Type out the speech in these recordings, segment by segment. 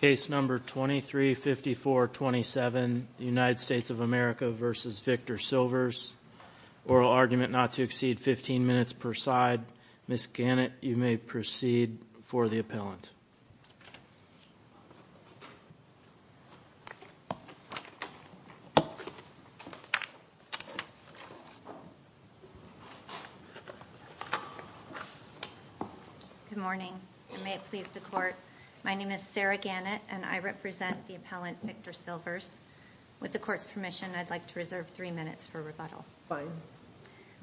Case number 235427, United States of America v. Victor Silvers. Oral argument not to exceed 15 minutes per side. Ms. Gannett, you may proceed for the appellant. Good morning. May it please the court. My name is Sarah Gannett and I represent the appellant Victor Silvers. With the court's permission, I'd like to reserve three minutes for rebuttal. Fine.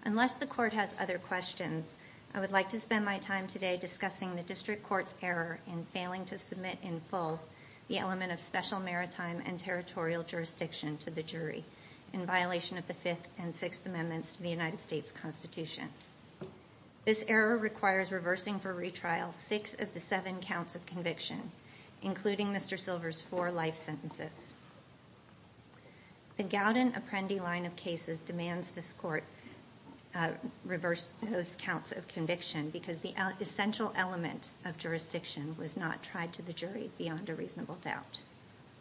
Unless the court has other questions, I would like to spend my time today discussing the district court's error in failing to submit in full the element of special maritime and territorial jurisdiction to the jury, in violation of the Fifth and Sixth Amendments to the United States Constitution. This error requires reversing for retrial six of the seven counts of conviction, including Mr. Silvers' four life sentences. The Gowden Apprendi line of cases demands this court reverse those counts of conviction because the essential element of jurisdiction was not tried to the jury beyond a reasonable doubt.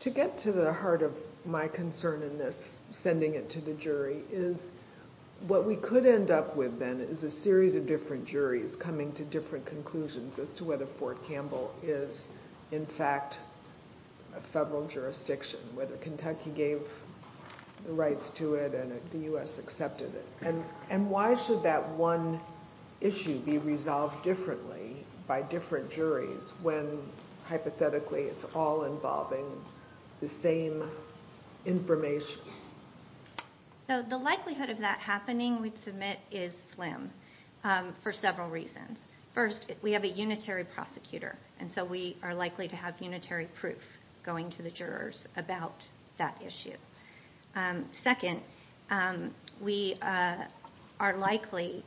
To get to the heart of my concern in this, sending it to the jury, is what we could end up with then is a series of different juries coming to different conclusions as to whether Fort Campbell is, in fact, a federal jurisdiction, whether Kentucky gave the rights to it and the U.S. accepted it. And why should that one issue be resolved differently by different juries when, hypothetically, it's all involving the same information? So the likelihood of that happening, we'd submit, is slim for several reasons. First, we have a unitary prosecutor, and so we are likely to have unitary proof going to the jurors about that issue. Second, we are likely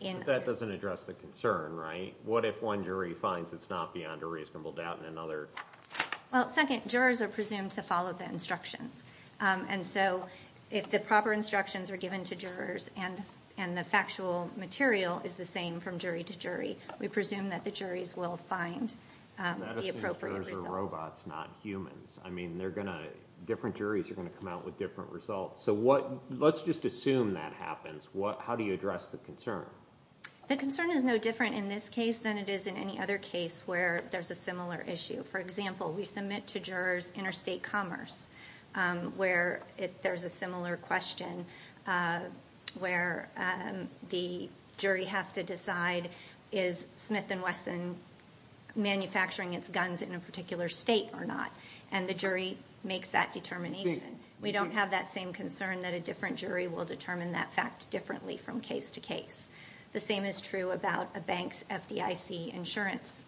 in... But that doesn't address the concern, right? What if one jury finds it's not beyond a reasonable doubt and another... Well, second, jurors are presumed to follow the instructions. And so if the proper instructions are given to jurors and the factual material is the same from jury to jury, we presume that the juries will find the appropriate result. But what if it's robots, not humans? I mean, different juries are going to come out with different results. So let's just assume that happens. How do you address the concern? The concern is no different in this case than it is in any other case where there's a similar issue. For example, we submit to jurors interstate commerce, where there's a similar question where the jury has to decide, is Smith & Wesson manufacturing its guns in a particular state or not? And the jury makes that determination. We don't have that same concern that a different jury will determine that fact differently from case to case. The same is true about a bank's FDIC insurance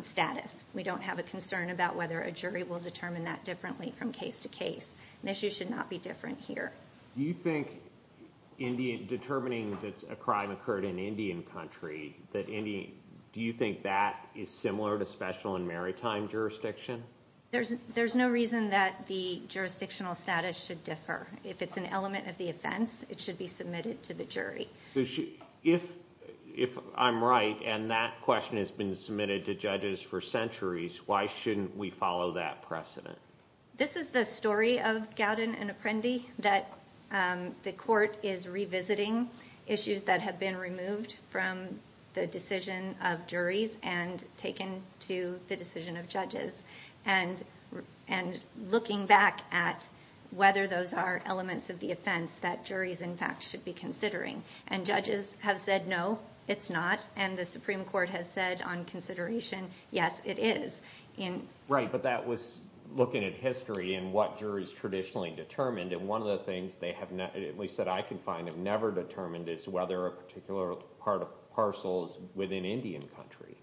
status. We don't have a concern about whether a jury will determine that differently from case to case. An issue should not be different here. Do you think determining that a crime occurred in Indian country, do you think that is similar to special and maritime jurisdiction? There's no reason that the jurisdictional status should differ. If it's an element of the offense, it should be submitted to the jury. If I'm right and that question has been submitted to judges for centuries, why shouldn't we follow that precedent? This is the story of Gowden and Apprendi, that the court is revisiting issues that have been removed from the decision of juries and taken to the decision of judges. And looking back at whether those are elements of the offense that juries, in fact, should be considering. And judges have said, no, it's not. And the Supreme Court has said on consideration, yes, it is. Right, but that was looking at history and what juries traditionally determined. And one of the things they have, at least that I can find, have never determined is whether a particular parcel is within Indian country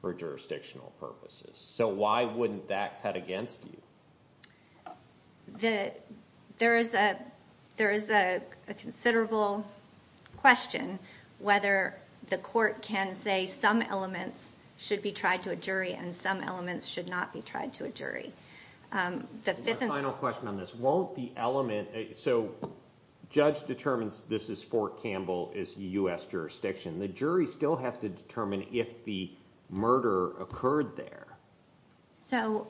for jurisdictional purposes. So why wouldn't that cut against you? There is a considerable question whether the court can say some elements should be tried to a jury and some elements should not be tried to a jury. My final question on this, won't the element, so the judge determines this is for Campbell is U.S. jurisdiction. The jury still has to determine if the murder occurred there. So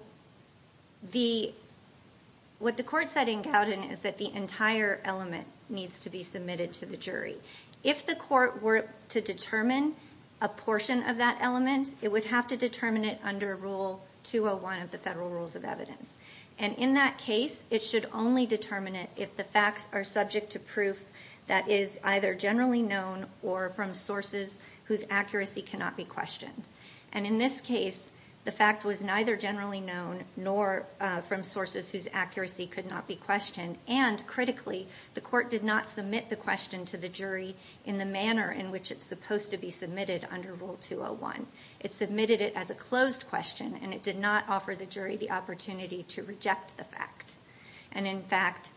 what the court said in Gowden is that the entire element needs to be submitted to the jury. If the court were to determine a portion of that element, it would have to determine it under Rule 201 of the Federal Rules of Evidence. And in that case, it should only determine it if the facts are subject to proof that is either generally known or from sources whose accuracy cannot be questioned. And in this case, the fact was neither generally known nor from sources whose accuracy could not be questioned. And critically, the court did not submit the question to the jury in the manner in which it's supposed to be submitted under Rule 201. It submitted it as a closed question and it did not offer the jury the opportunity to reject the fact. And in fact,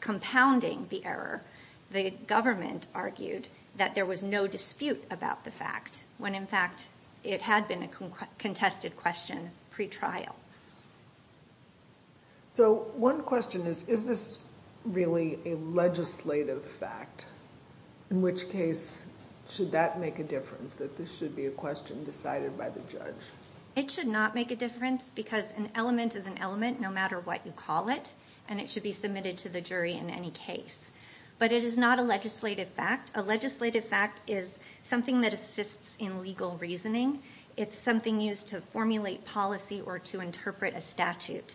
compounding the error, the government argued that there was no dispute about the fact when in fact it had been a contested question pretrial. So one question is, is this really a legislative fact? In which case, should that make a difference, that this should be a question decided by the judge? It should not make a difference because an element is an element no matter what you call it, and it should be submitted to the jury in any case. But it is not a legislative fact. A legislative fact is something that assists in legal reasoning. It's something used to formulate policy or to interpret a statute.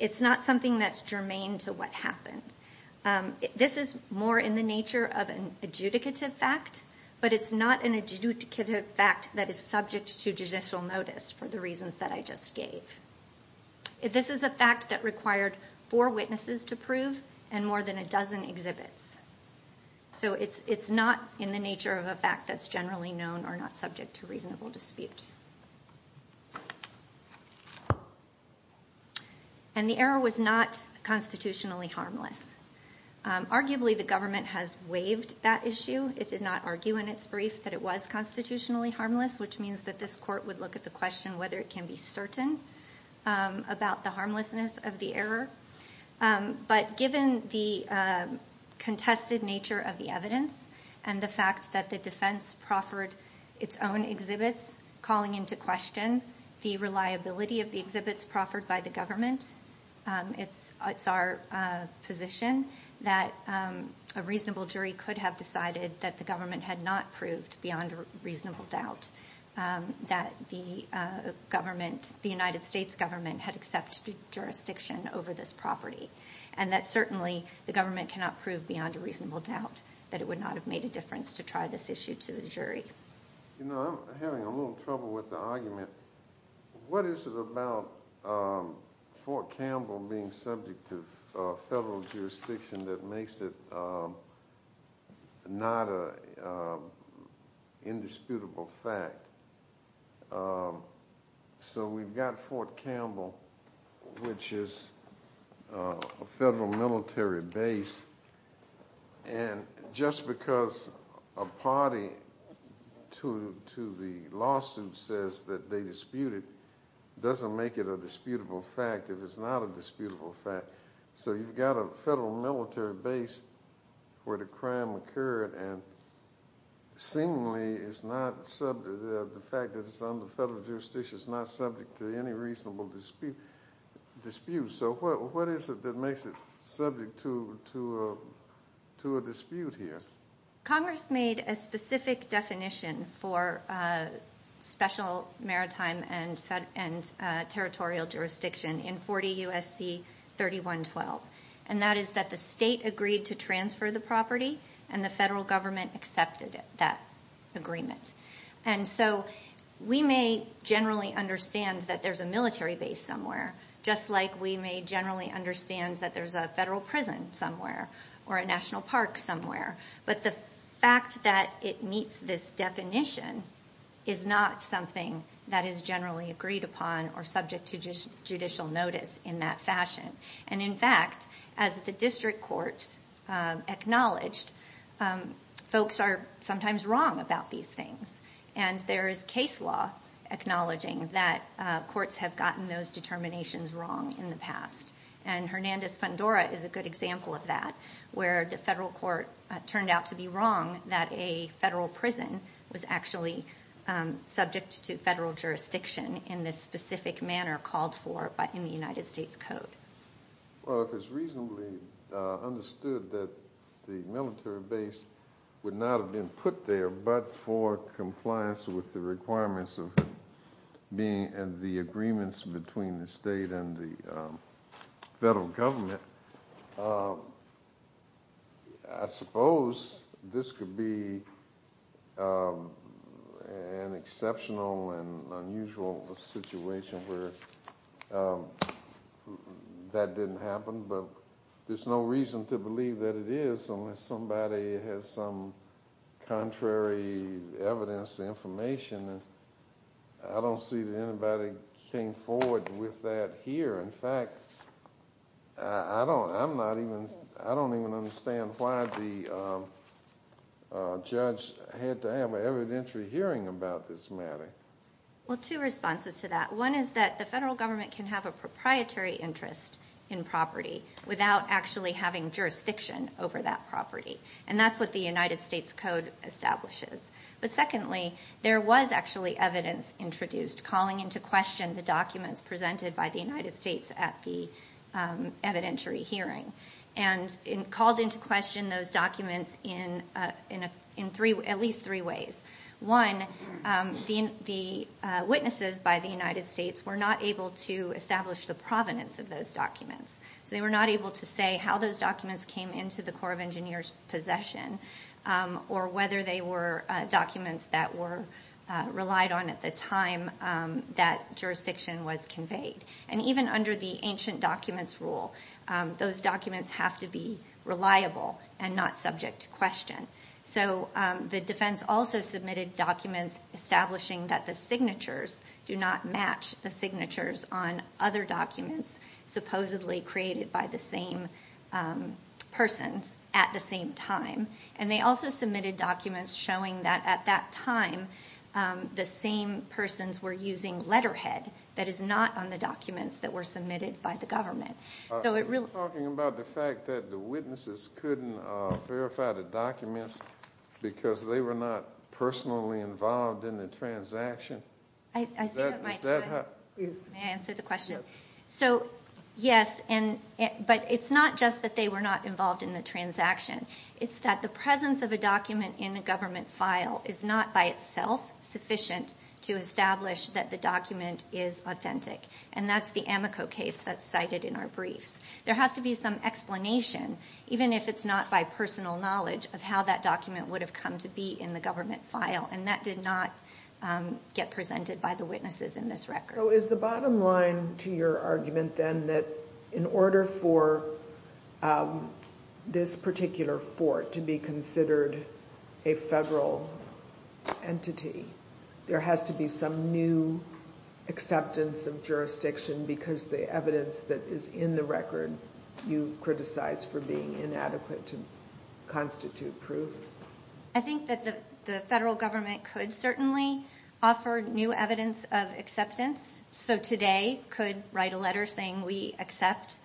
It's not something that's germane to what happened. This is more in the nature of an adjudicative fact, but it's not an adjudicative fact that is subject to judicial notice for the reasons that I just gave. This is a fact that required four witnesses to prove and more than a dozen exhibits. So it's not in the nature of a fact that's generally known or not subject to reasonable dispute. And the error was not constitutionally harmless. Arguably, the government has waived that issue. It did not argue in its brief that it was constitutionally harmless, which means that this court would look at the question whether it can be certain about the harmlessness of the error. But given the contested nature of the evidence and the fact that the defense proffered its own exhibits calling into question the reliability of the exhibits proffered by the government, it's our position that a reasonable jury could have decided that the government had not proved beyond reasonable doubt that the government, the United States government, had accepted jurisdiction over this property. And that certainly the government cannot prove beyond a reasonable doubt that it would not have made a difference to try this issue to the jury. You know, I'm having a little trouble with the argument. What is it about Fort Campbell being subject to federal jurisdiction that makes it not an indisputable fact? So we've got Fort Campbell, which is a federal military base. And just because a party to the lawsuit says that they dispute it doesn't make it a disputable fact if it's not a disputable fact. So you've got a federal military base where the crime occurred and seemingly it's not subject, the fact that it's under federal jurisdiction is not subject to any reasonable dispute. So what is it that makes it subject to a dispute here? Congress made a specific definition for special maritime and territorial jurisdiction in 40 U.S.C. 3112. And that is that the state agreed to transfer the property and the federal government accepted that agreement. And so we may generally understand that there's a military base somewhere, just like we may generally understand that there's a federal prison somewhere or a national park somewhere. But the fact that it meets this definition is not something that is generally agreed upon or subject to judicial notice in that fashion. And in fact, as the district courts acknowledged, folks are sometimes wrong about these things. And there is case law acknowledging that courts have gotten those determinations wrong in the past. And Hernandez federal court turned out to be wrong that a federal prison was actually subject to federal jurisdiction in this specific manner called for in the United States Code. Well, if it's reasonably understood that the military base would not have been put there but for compliance with the requirements of the agreements between the state and the federal government, I suppose this could be an exceptional and unusual situation where that didn't happen. But there's no reason to believe that it is unless somebody has some contrary evidence, information. I don't see that anybody came forward with that here. In fact, I don't even understand why the judge had to have an evidentiary hearing about this matter. Well, two responses to that. One is that the federal government can have a proprietary interest in property without actually having jurisdiction over that property. And that's what the United States Code establishes. But secondly, there was actually evidence introduced calling into question the documents presented by the United States at the evidentiary hearing. And it called into question those documents in at least three ways. One, the witnesses by the United States were not able to establish the provenance of those documents. So they were not able to say how those documents came into the Corps of Engineers' possession or whether they were documents that were relied on at the time that jurisdiction was conveyed. And even under the ancient documents rule, those documents have to be reliable and not subject to question. So the defense also submitted documents establishing that the signatures do not match the signatures on other documents supposedly created by the same persons at the same time. And they also submitted documents showing that at that time, the same persons were using letterhead that is not on the documents that were submitted by the government. Are you talking about the fact that the witnesses couldn't verify the documents because they were not personally involved in the transaction? I see what Mike is saying. May I answer the question? So yes, but it's not just that they were not involved in the transaction. It's that the presence of a document in a government file is not by itself sufficient to establish that the document is authentic. And that's the Amico case that's cited in our briefs. There has to be some explanation, even if it's not by personal knowledge, of how that document would have come to be in the government file. And that did not get presented by the witnesses in this record. So is the bottom line to your argument, then, that in order for this particular fort to be considered a federal entity, there has to be some new acceptance of jurisdiction because the evidence that is in the record you criticize for being inadequate to constitute proof? I think that the federal government could certainly offer new evidence of acceptance. So TODAY could write a letter saying we accept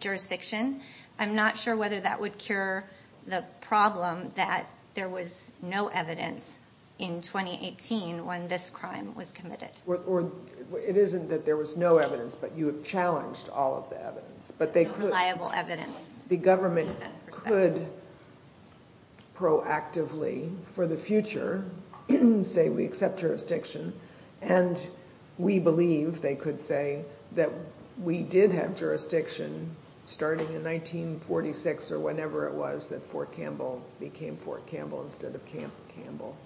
jurisdiction. I'm not sure whether that would cure the problem that there was no evidence in 2018 when this crime was committed. It isn't that there was no evidence, but you have challenged all of the evidence. No reliable evidence. The government could proactively, for the future, say we accept jurisdiction. And we believe, they could say, that we did have jurisdiction starting in 1946 or whenever it was that Fort Campbell became Fort Campbell instead of Camp Campbell.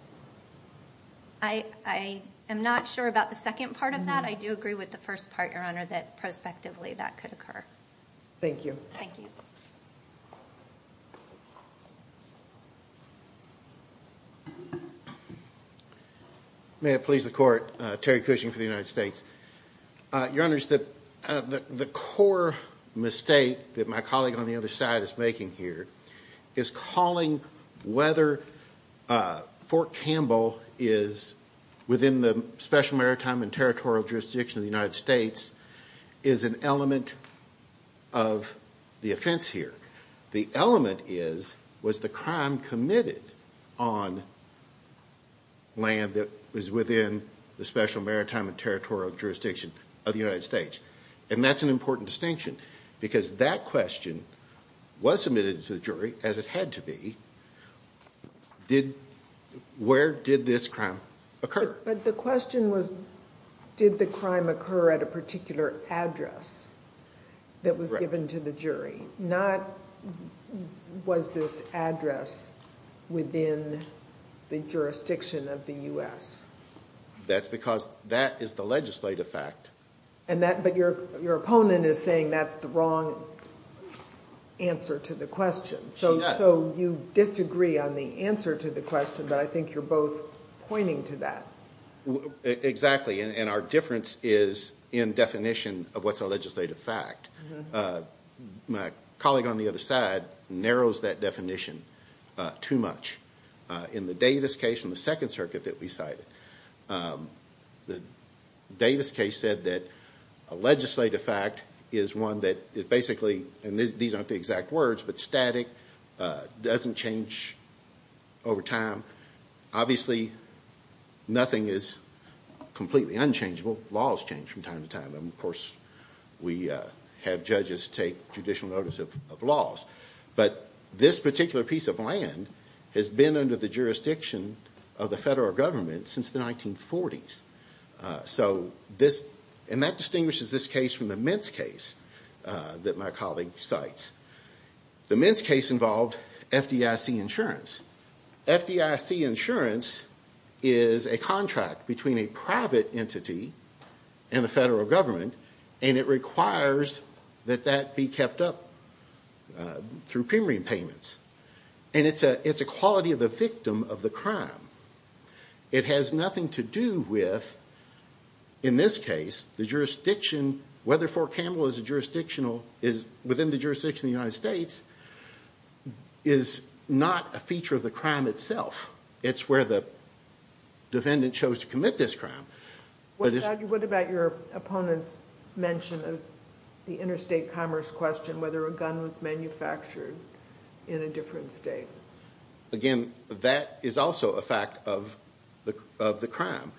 I am not sure about the second part of that. I do agree with the first part, Your Honor, that prospectively that could occur. Thank you. May it please the Court, Terry Cushing for the United States. Your Honors, the core mistake that my colleague on the other side is making here is calling whether Fort Campbell is within the Special Maritime and Territorial Jurisdiction of the United States is an element of the offense here. The element is, was the crime committed on land that was within the Special Maritime and Territorial Jurisdiction of the United States? And that's an important distinction because that question was submitted to the jury, as it had to be, where did this crime occur? But the question was, did the crime occur at a particular address that was given to the jury? Not, was this address within the jurisdiction of the U.S.? That's because that is the legislative fact. And that, but your opponent is saying that's the wrong answer to the question. She does. So you disagree on the answer to the question, but I think you're both pointing to that. Exactly. And our difference is in definition of what's a legislative fact. My colleague on the other side narrows that definition too much. In the Davis case, in the Second Circuit that we cited, the Davis case said that a legislative fact is one that is basically, and these aren't the exact words, but static, doesn't change over time. Obviously, nothing is completely unchangeable. Laws change from time to time. Of course, we have judges take judicial notice of laws. But this particular piece of land has been under the jurisdiction of the federal government since the 1940s. So this, and that distinguishes this case from the Mintz case that my colleague cites. The Mintz case involved FDIC insurance. FDIC insurance is a contract between a private entity and the federal government and it requires that that be kept up through premium payments. And it's a quality of the victim of the crime. It has nothing to do with, in this case, the jurisdiction, whether Fort Campbell is within the jurisdiction of the United States, is not a feature of the crime itself. It's where the defendant chose to commit this crime. What about your opponent's mention of the interstate commerce question, whether a gun was manufactured in a different state? Again, that is also a part of the fact of the crime.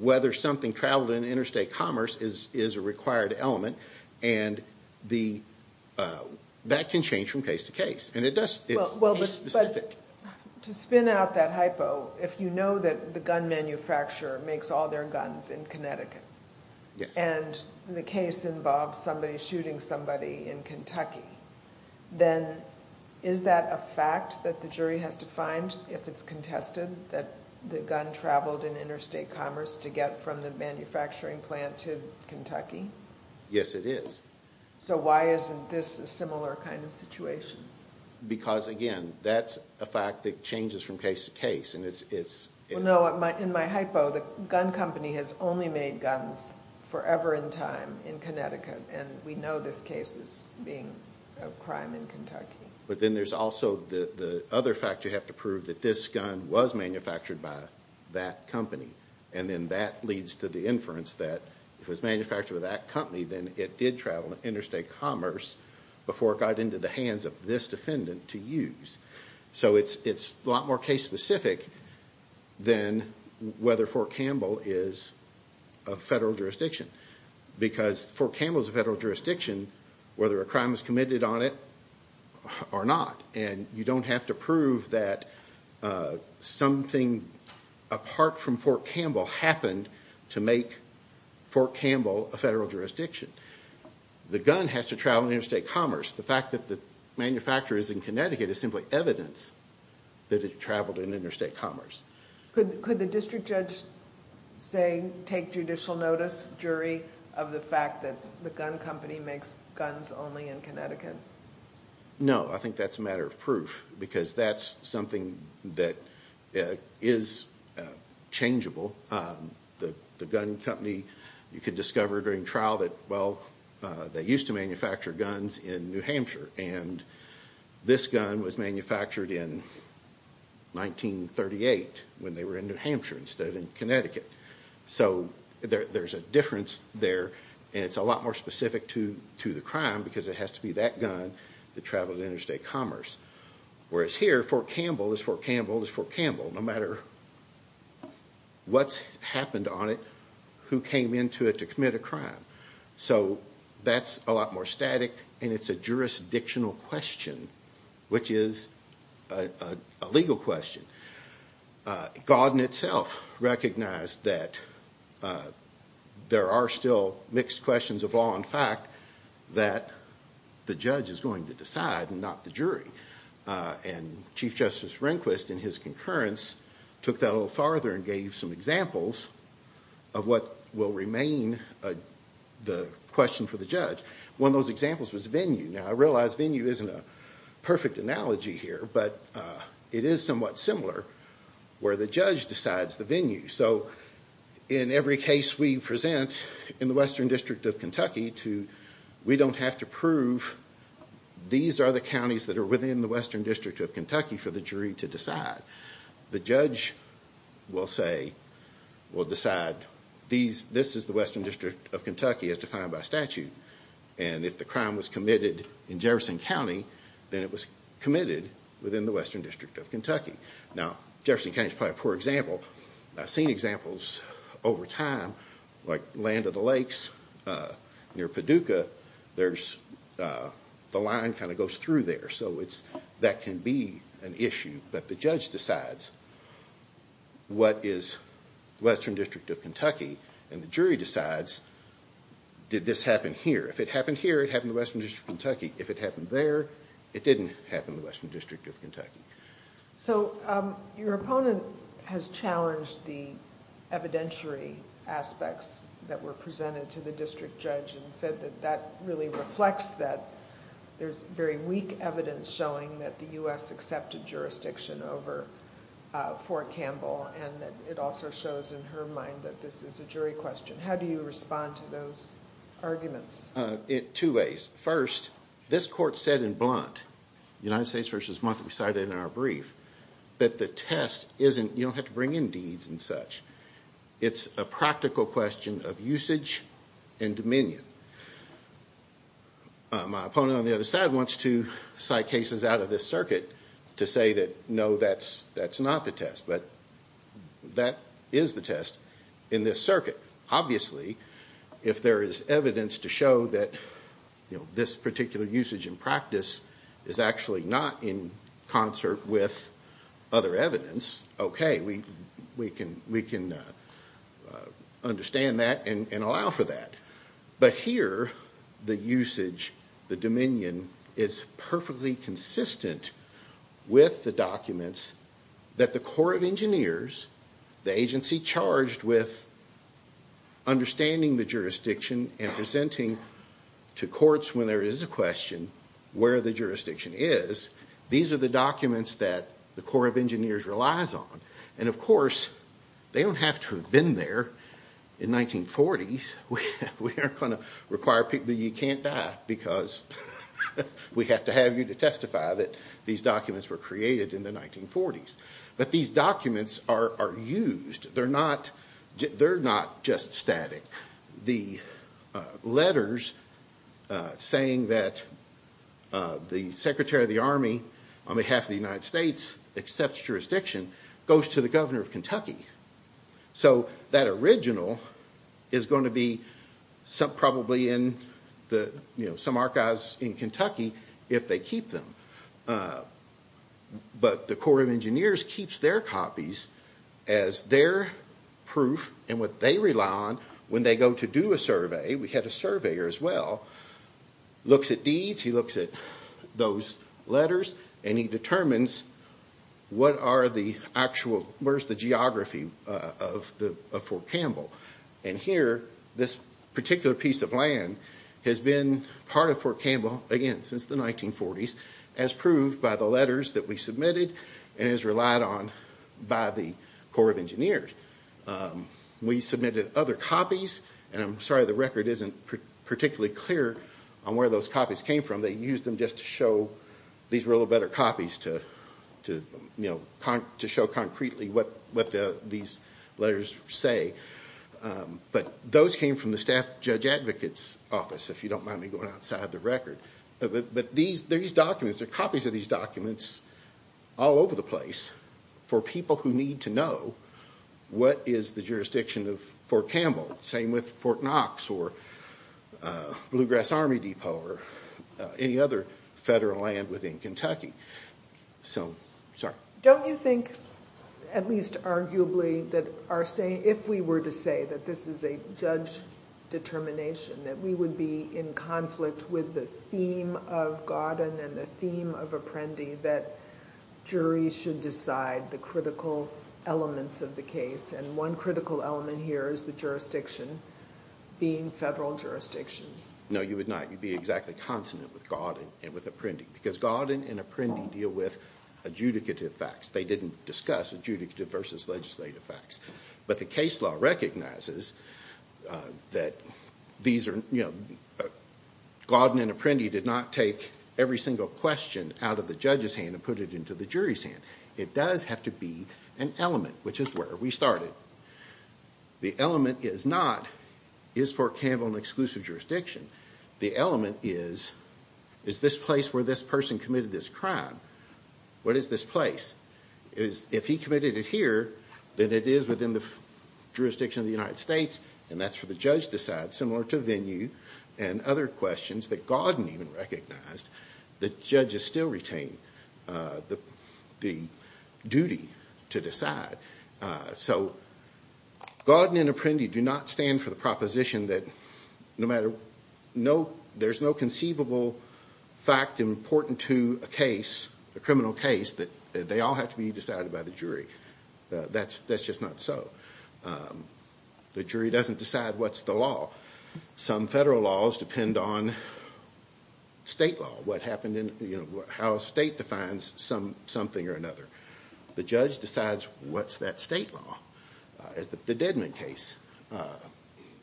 Whether something traveled in interstate commerce is a required element and that can change from case to case. And it does, it's case specific. To spin out that hypo, if you know that the gun manufacturer makes all their guns in Connecticut and the case involves somebody shooting somebody in Kentucky, then is that a fact that the jury has to find if it's contested that the gun traveled in interstate commerce to get from the manufacturing plant to Kentucky? Yes, it is. So why isn't this a similar kind of situation? Because, again, that's a fact that changes from case to case and it's... Well, no, in my hypo, the gun company has only made guns forever in time in Connecticut and we know this case as being a crime in Kentucky. But then there's also the other fact you have to prove that this gun was manufactured by that company. And then that leads to the inference that if it was manufactured by that company, then it did travel to interstate commerce before it got into the hands of this defendant to use. So it's a lot more case specific than whether Fort Campbell is a federal jurisdiction. Because Fort Campbell is a federal jurisdiction, whether a crime is committed on it or not. And you don't have to prove that something apart from Fort Campbell happened to make Fort Campbell a federal jurisdiction. The gun has to travel in interstate commerce. The fact that the manufacturer is in Connecticut is simply evidence that it traveled in interstate commerce. Could the district judge say, take judicial notice, jury, of the fact that the gun company makes guns only in Connecticut? No, I think that's a matter of proof because that's something that is changeable. The gun company, you could discover during trial that, they used to manufacture guns in New Hampshire and this gun was manufactured in 1938 when they were in New Hampshire instead of Connecticut. So there's a difference there and it's a lot more specific to the crime because it has to be that gun that traveled to interstate commerce. Whereas here, Fort Campbell is Fort Campbell is Fort Campbell. No matter what's happened on it, who came into it to commit a crime. So that's a lot more static and it's a jurisdictional question, which is a legal question. Gauden itself recognized that there are still mixed questions of law and fact that the judge is going to decide and not the jury. And Chief Justice Rehnquist in his concurrence took that a little farther and gave some examples of what will remain the question for the judge. One of those examples was venue. Now I realize venue isn't a perfect analogy here, but it is somewhat similar where the judge decides the venue. So in every case we present in the Western District of Kentucky, we don't have to prove these are the counties that are within the Western District of Kentucky for the jury to decide. The judge will say, will decide this is the Western District of Kentucky as defined by statute. And if the crime was committed in Jefferson County, then it was committed within the Western District of Kentucky. Now Jefferson County is probably a poor example. I've seen examples over time like Land of the Near Paducah, the line kind of goes through there. So that can be an issue, but the judge decides what is Western District of Kentucky and the jury decides, did this happen here? If it happened here, it happened in the Western District of Kentucky. If it happened there, it didn't happen in the Western District of Kentucky. So your opponent has challenged the evidentiary aspects that were presented to the district judge and said that that really reflects that there's very weak evidence showing that the U.S. accepted jurisdiction over Fort Campbell and that it also shows in her mind that this is a jury question. How do you respond to those arguments? Two ways. First, this court said in blunt, United States versus Monthly decided in our brief, that the test isn't, you don't have to bring in deeds and such. It's a practical question of usage and dominion. My opponent on the other side wants to cite cases out of this circuit to say that no, that's not the test, but that is the test in this circuit. Obviously, if there is evidence to show that this particular usage in practice is actually not in concert with other evidence, okay, we can understand that and allow for that. But here, the usage, the dominion is perfectly consistent with the documents that the Corps of Engineers, the agency charged with understanding the jurisdiction and presenting to courts when there is a question where the jurisdiction is. These are the documents that the Corps of Engineers relies on. Of course, they don't have to have been there in 1940s. We aren't going to require people, you can't die because we have to have you to testify that these documents were created in the 1940s. But these documents are used. They're not just static. The letters saying that the Secretary of the Army on behalf of the United States accepts jurisdiction goes to the Governor of Kentucky. So that original is going to be probably in some archives in Kentucky if they have them. But the Corps of Engineers keeps their copies as their proof and what they rely on when they go to do a survey. We had a surveyor as well. He looks at deeds, he looks at those letters, and he determines where is the geography of Fort Campbell. Here, this particular piece of land has been part of Fort Campbell, again, since the 1940s as proved by the letters that we submitted and as relied on by the Corps of Engineers. We submitted other copies. I'm sorry the record isn't particularly clear on where those copies came from. They used them just to show these were a little better copies to show concretely what these letters say. But those came from the Judge Advocate's Office, if you don't mind me going outside the record. But there are copies of these documents all over the place for people who need to know what is the jurisdiction of Fort Campbell. Same with Fort Knox or Blue Grass Army Depot or any other federal land within Kentucky. So, sorry. Don't you think, at least arguably, that if we were to say that this is a judge determination, that we would be in conflict with the theme of Gauden and the theme of Apprendi, that juries should decide the critical elements of the case? And one critical element here is the jurisdiction being federal jurisdiction. No, you would not. You'd be exactly consonant with Gauden and with Apprendi. Because Gauden and Apprendi deal with adjudicative facts. They didn't discuss adjudicative versus legislative facts. But the case law recognizes that Gauden and Apprendi did not take every single question out of the judge's hand and put it into the jury's hand. It does have to be an element, which is where we started. The element is not, is Fort Campbell an exclusive jurisdiction? The element is, is this place where this person committed this crime? What is this place? If he committed it here, then it is within the jurisdiction of the United States, and that's for the judge to decide. Similar to Venue and other questions that Gauden even recognized, the judges still retain the duty to decide. So, Gauden and Apprendi do not stand for the proposition that no matter, no, there's no conceivable fact important to a case, a criminal case, that they all have to be decided by the jury. That's just not so. The jury doesn't decide what's the law. Some federal laws depend on state law, what happened in, you know, how a state defines something or another. The judge decides what's that state law, as the Dedman case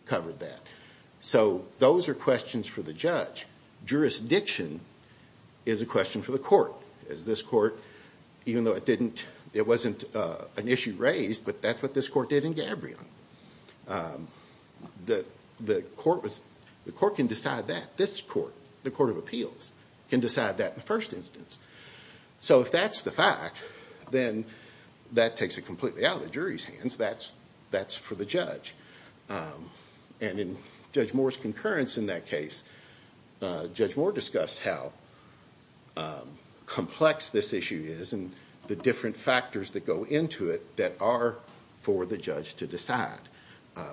covered that. So, those are questions for the judge. Jurisdiction is a question for the court, as this court, even though it didn't, it wasn't an issue raised, but that's what this court did in Gabrion. The court was, the court can decide that. This court, the Court of Appeals, can decide that in the first instance. So, if that's the fact, then that takes it completely out of the jury's hands. That's for the judge. And in Judge Moore's concurrence in that case, Judge Moore discussed how complex this issue is and the different factors that go into it that are for the judge to decide.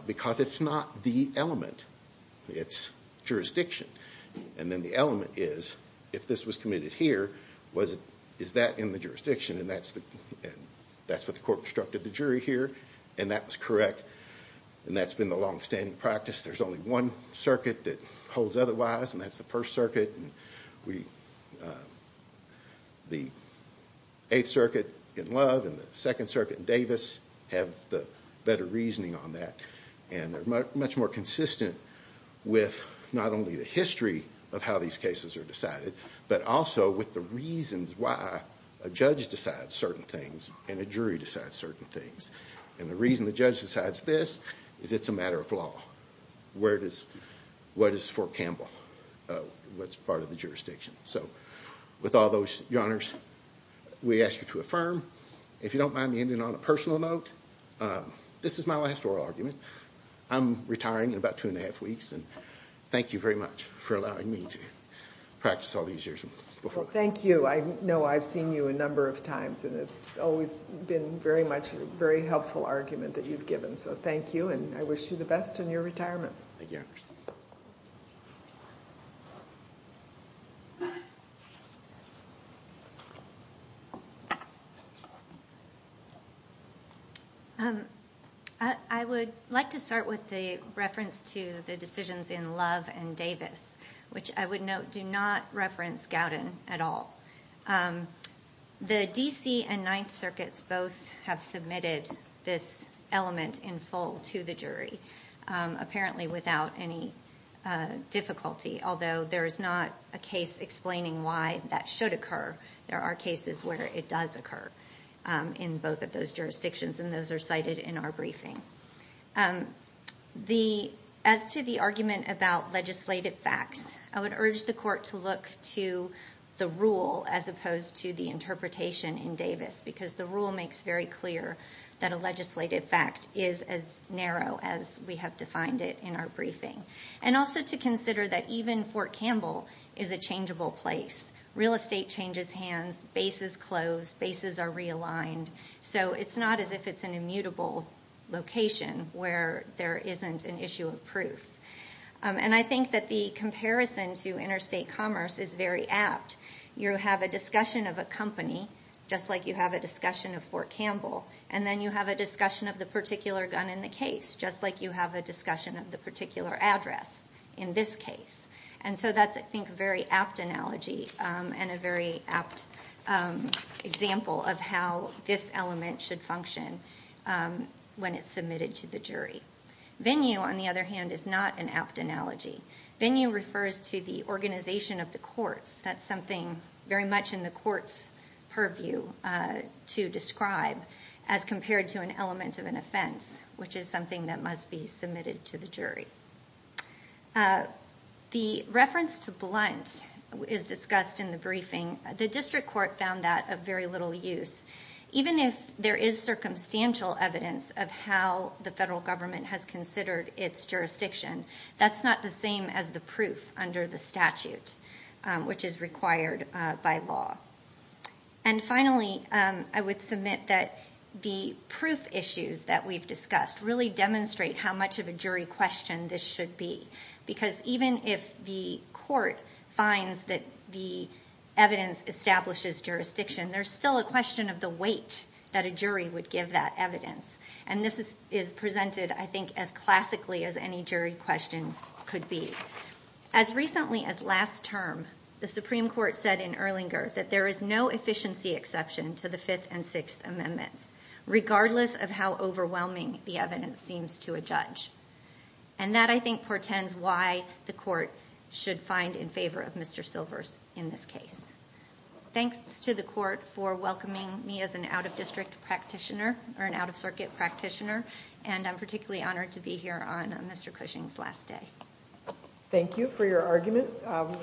Because it's not the element, it's jurisdiction. And then the element is, if this was committed here, is that in the jurisdiction? And that's what the court instructed the jury here, and that was correct. And that's been the long-standing practice. There's only one circuit that holds otherwise, and that's the First Circuit. The Eighth Circuit in Love and the Second Circuit in Davis have the better reasoning on that. And they're much more consistent with not only the history of how these cases are decided, but also with the reasons why a judge decides certain things and a jury decides certain things. And the reason the judge decides this is it's a matter of law. What is Fort Campbell? What's part of the jurisdiction? So, with all those, Your Honors, we ask you to affirm. If you don't mind me ending on a personal note. This is my last oral argument. I'm retiring in about two and a half weeks, and thank you very much for allowing me to practice all these years. Well, thank you. I know I've seen you a number of times, and it's always been very much a very helpful argument that you've given. So, thank you, and I wish you the best in your retirement. I would like to start with a reference to the decisions in Love and Davis, which I would note do not reference Gowden at all. The D.C. and Ninth apparently without any difficulty, although there is not a case explaining why that should occur. There are cases where it does occur in both of those jurisdictions, and those are cited in our briefing. As to the argument about legislative facts, I would urge the Court to look to the rule as opposed to the interpretation in Davis, because the rule makes very clear that a legislative fact is as narrow as we have defined it in our briefing. And also to consider that even Fort Campbell is a changeable place. Real estate changes hands, bases close, bases are realigned. So, it's not as if it's an immutable location where there isn't an issue of proof. And I think that the comparison to interstate commerce is very apt. You have a discussion of a company, just like you have a discussion of Fort Campbell, and then you have a discussion of the particular gun in the case, just like you have a discussion of the particular address in this case. And so that's, I think, a very apt analogy and a very apt example of how this element should function when it's submitted to the jury. Venue, on the other hand, is not an apt analogy. Venue refers to the organization of the courts. That's something very much in the court's purview to describe as compared to an element of an offense, which is something that must be submitted to the jury. The reference to blunt is discussed in the briefing. The district court found that of very little use. Even if there is circumstantial evidence of how the federal government has considered its jurisdiction, that's not the same as the proof under the statute, which is required by law. And finally, I would submit that the proof issues that we've discussed really demonstrate how much of a jury question this should be. Because even if the court finds that the evidence establishes jurisdiction, there's still a question of the weight that a jury would give that evidence. And this is presented, I think, as classically as any jury question could be. As recently as last term, the Supreme Court said in Erlinger that there is no efficiency exception to the Fifth and Sixth Amendments, regardless of how overwhelming the evidence seems to a judge. And that, I think, portends why the court should find in favor of Mr. Silvers in this case. Thanks to the court for welcoming me as an out-of-district practitioner, or an out-of-circuit practitioner, and I'm particularly honored to be here on Mr. Cushing's last day. Thank you for your argument.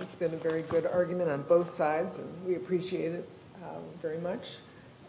It's been a very good argument on both sides and we appreciate it very much.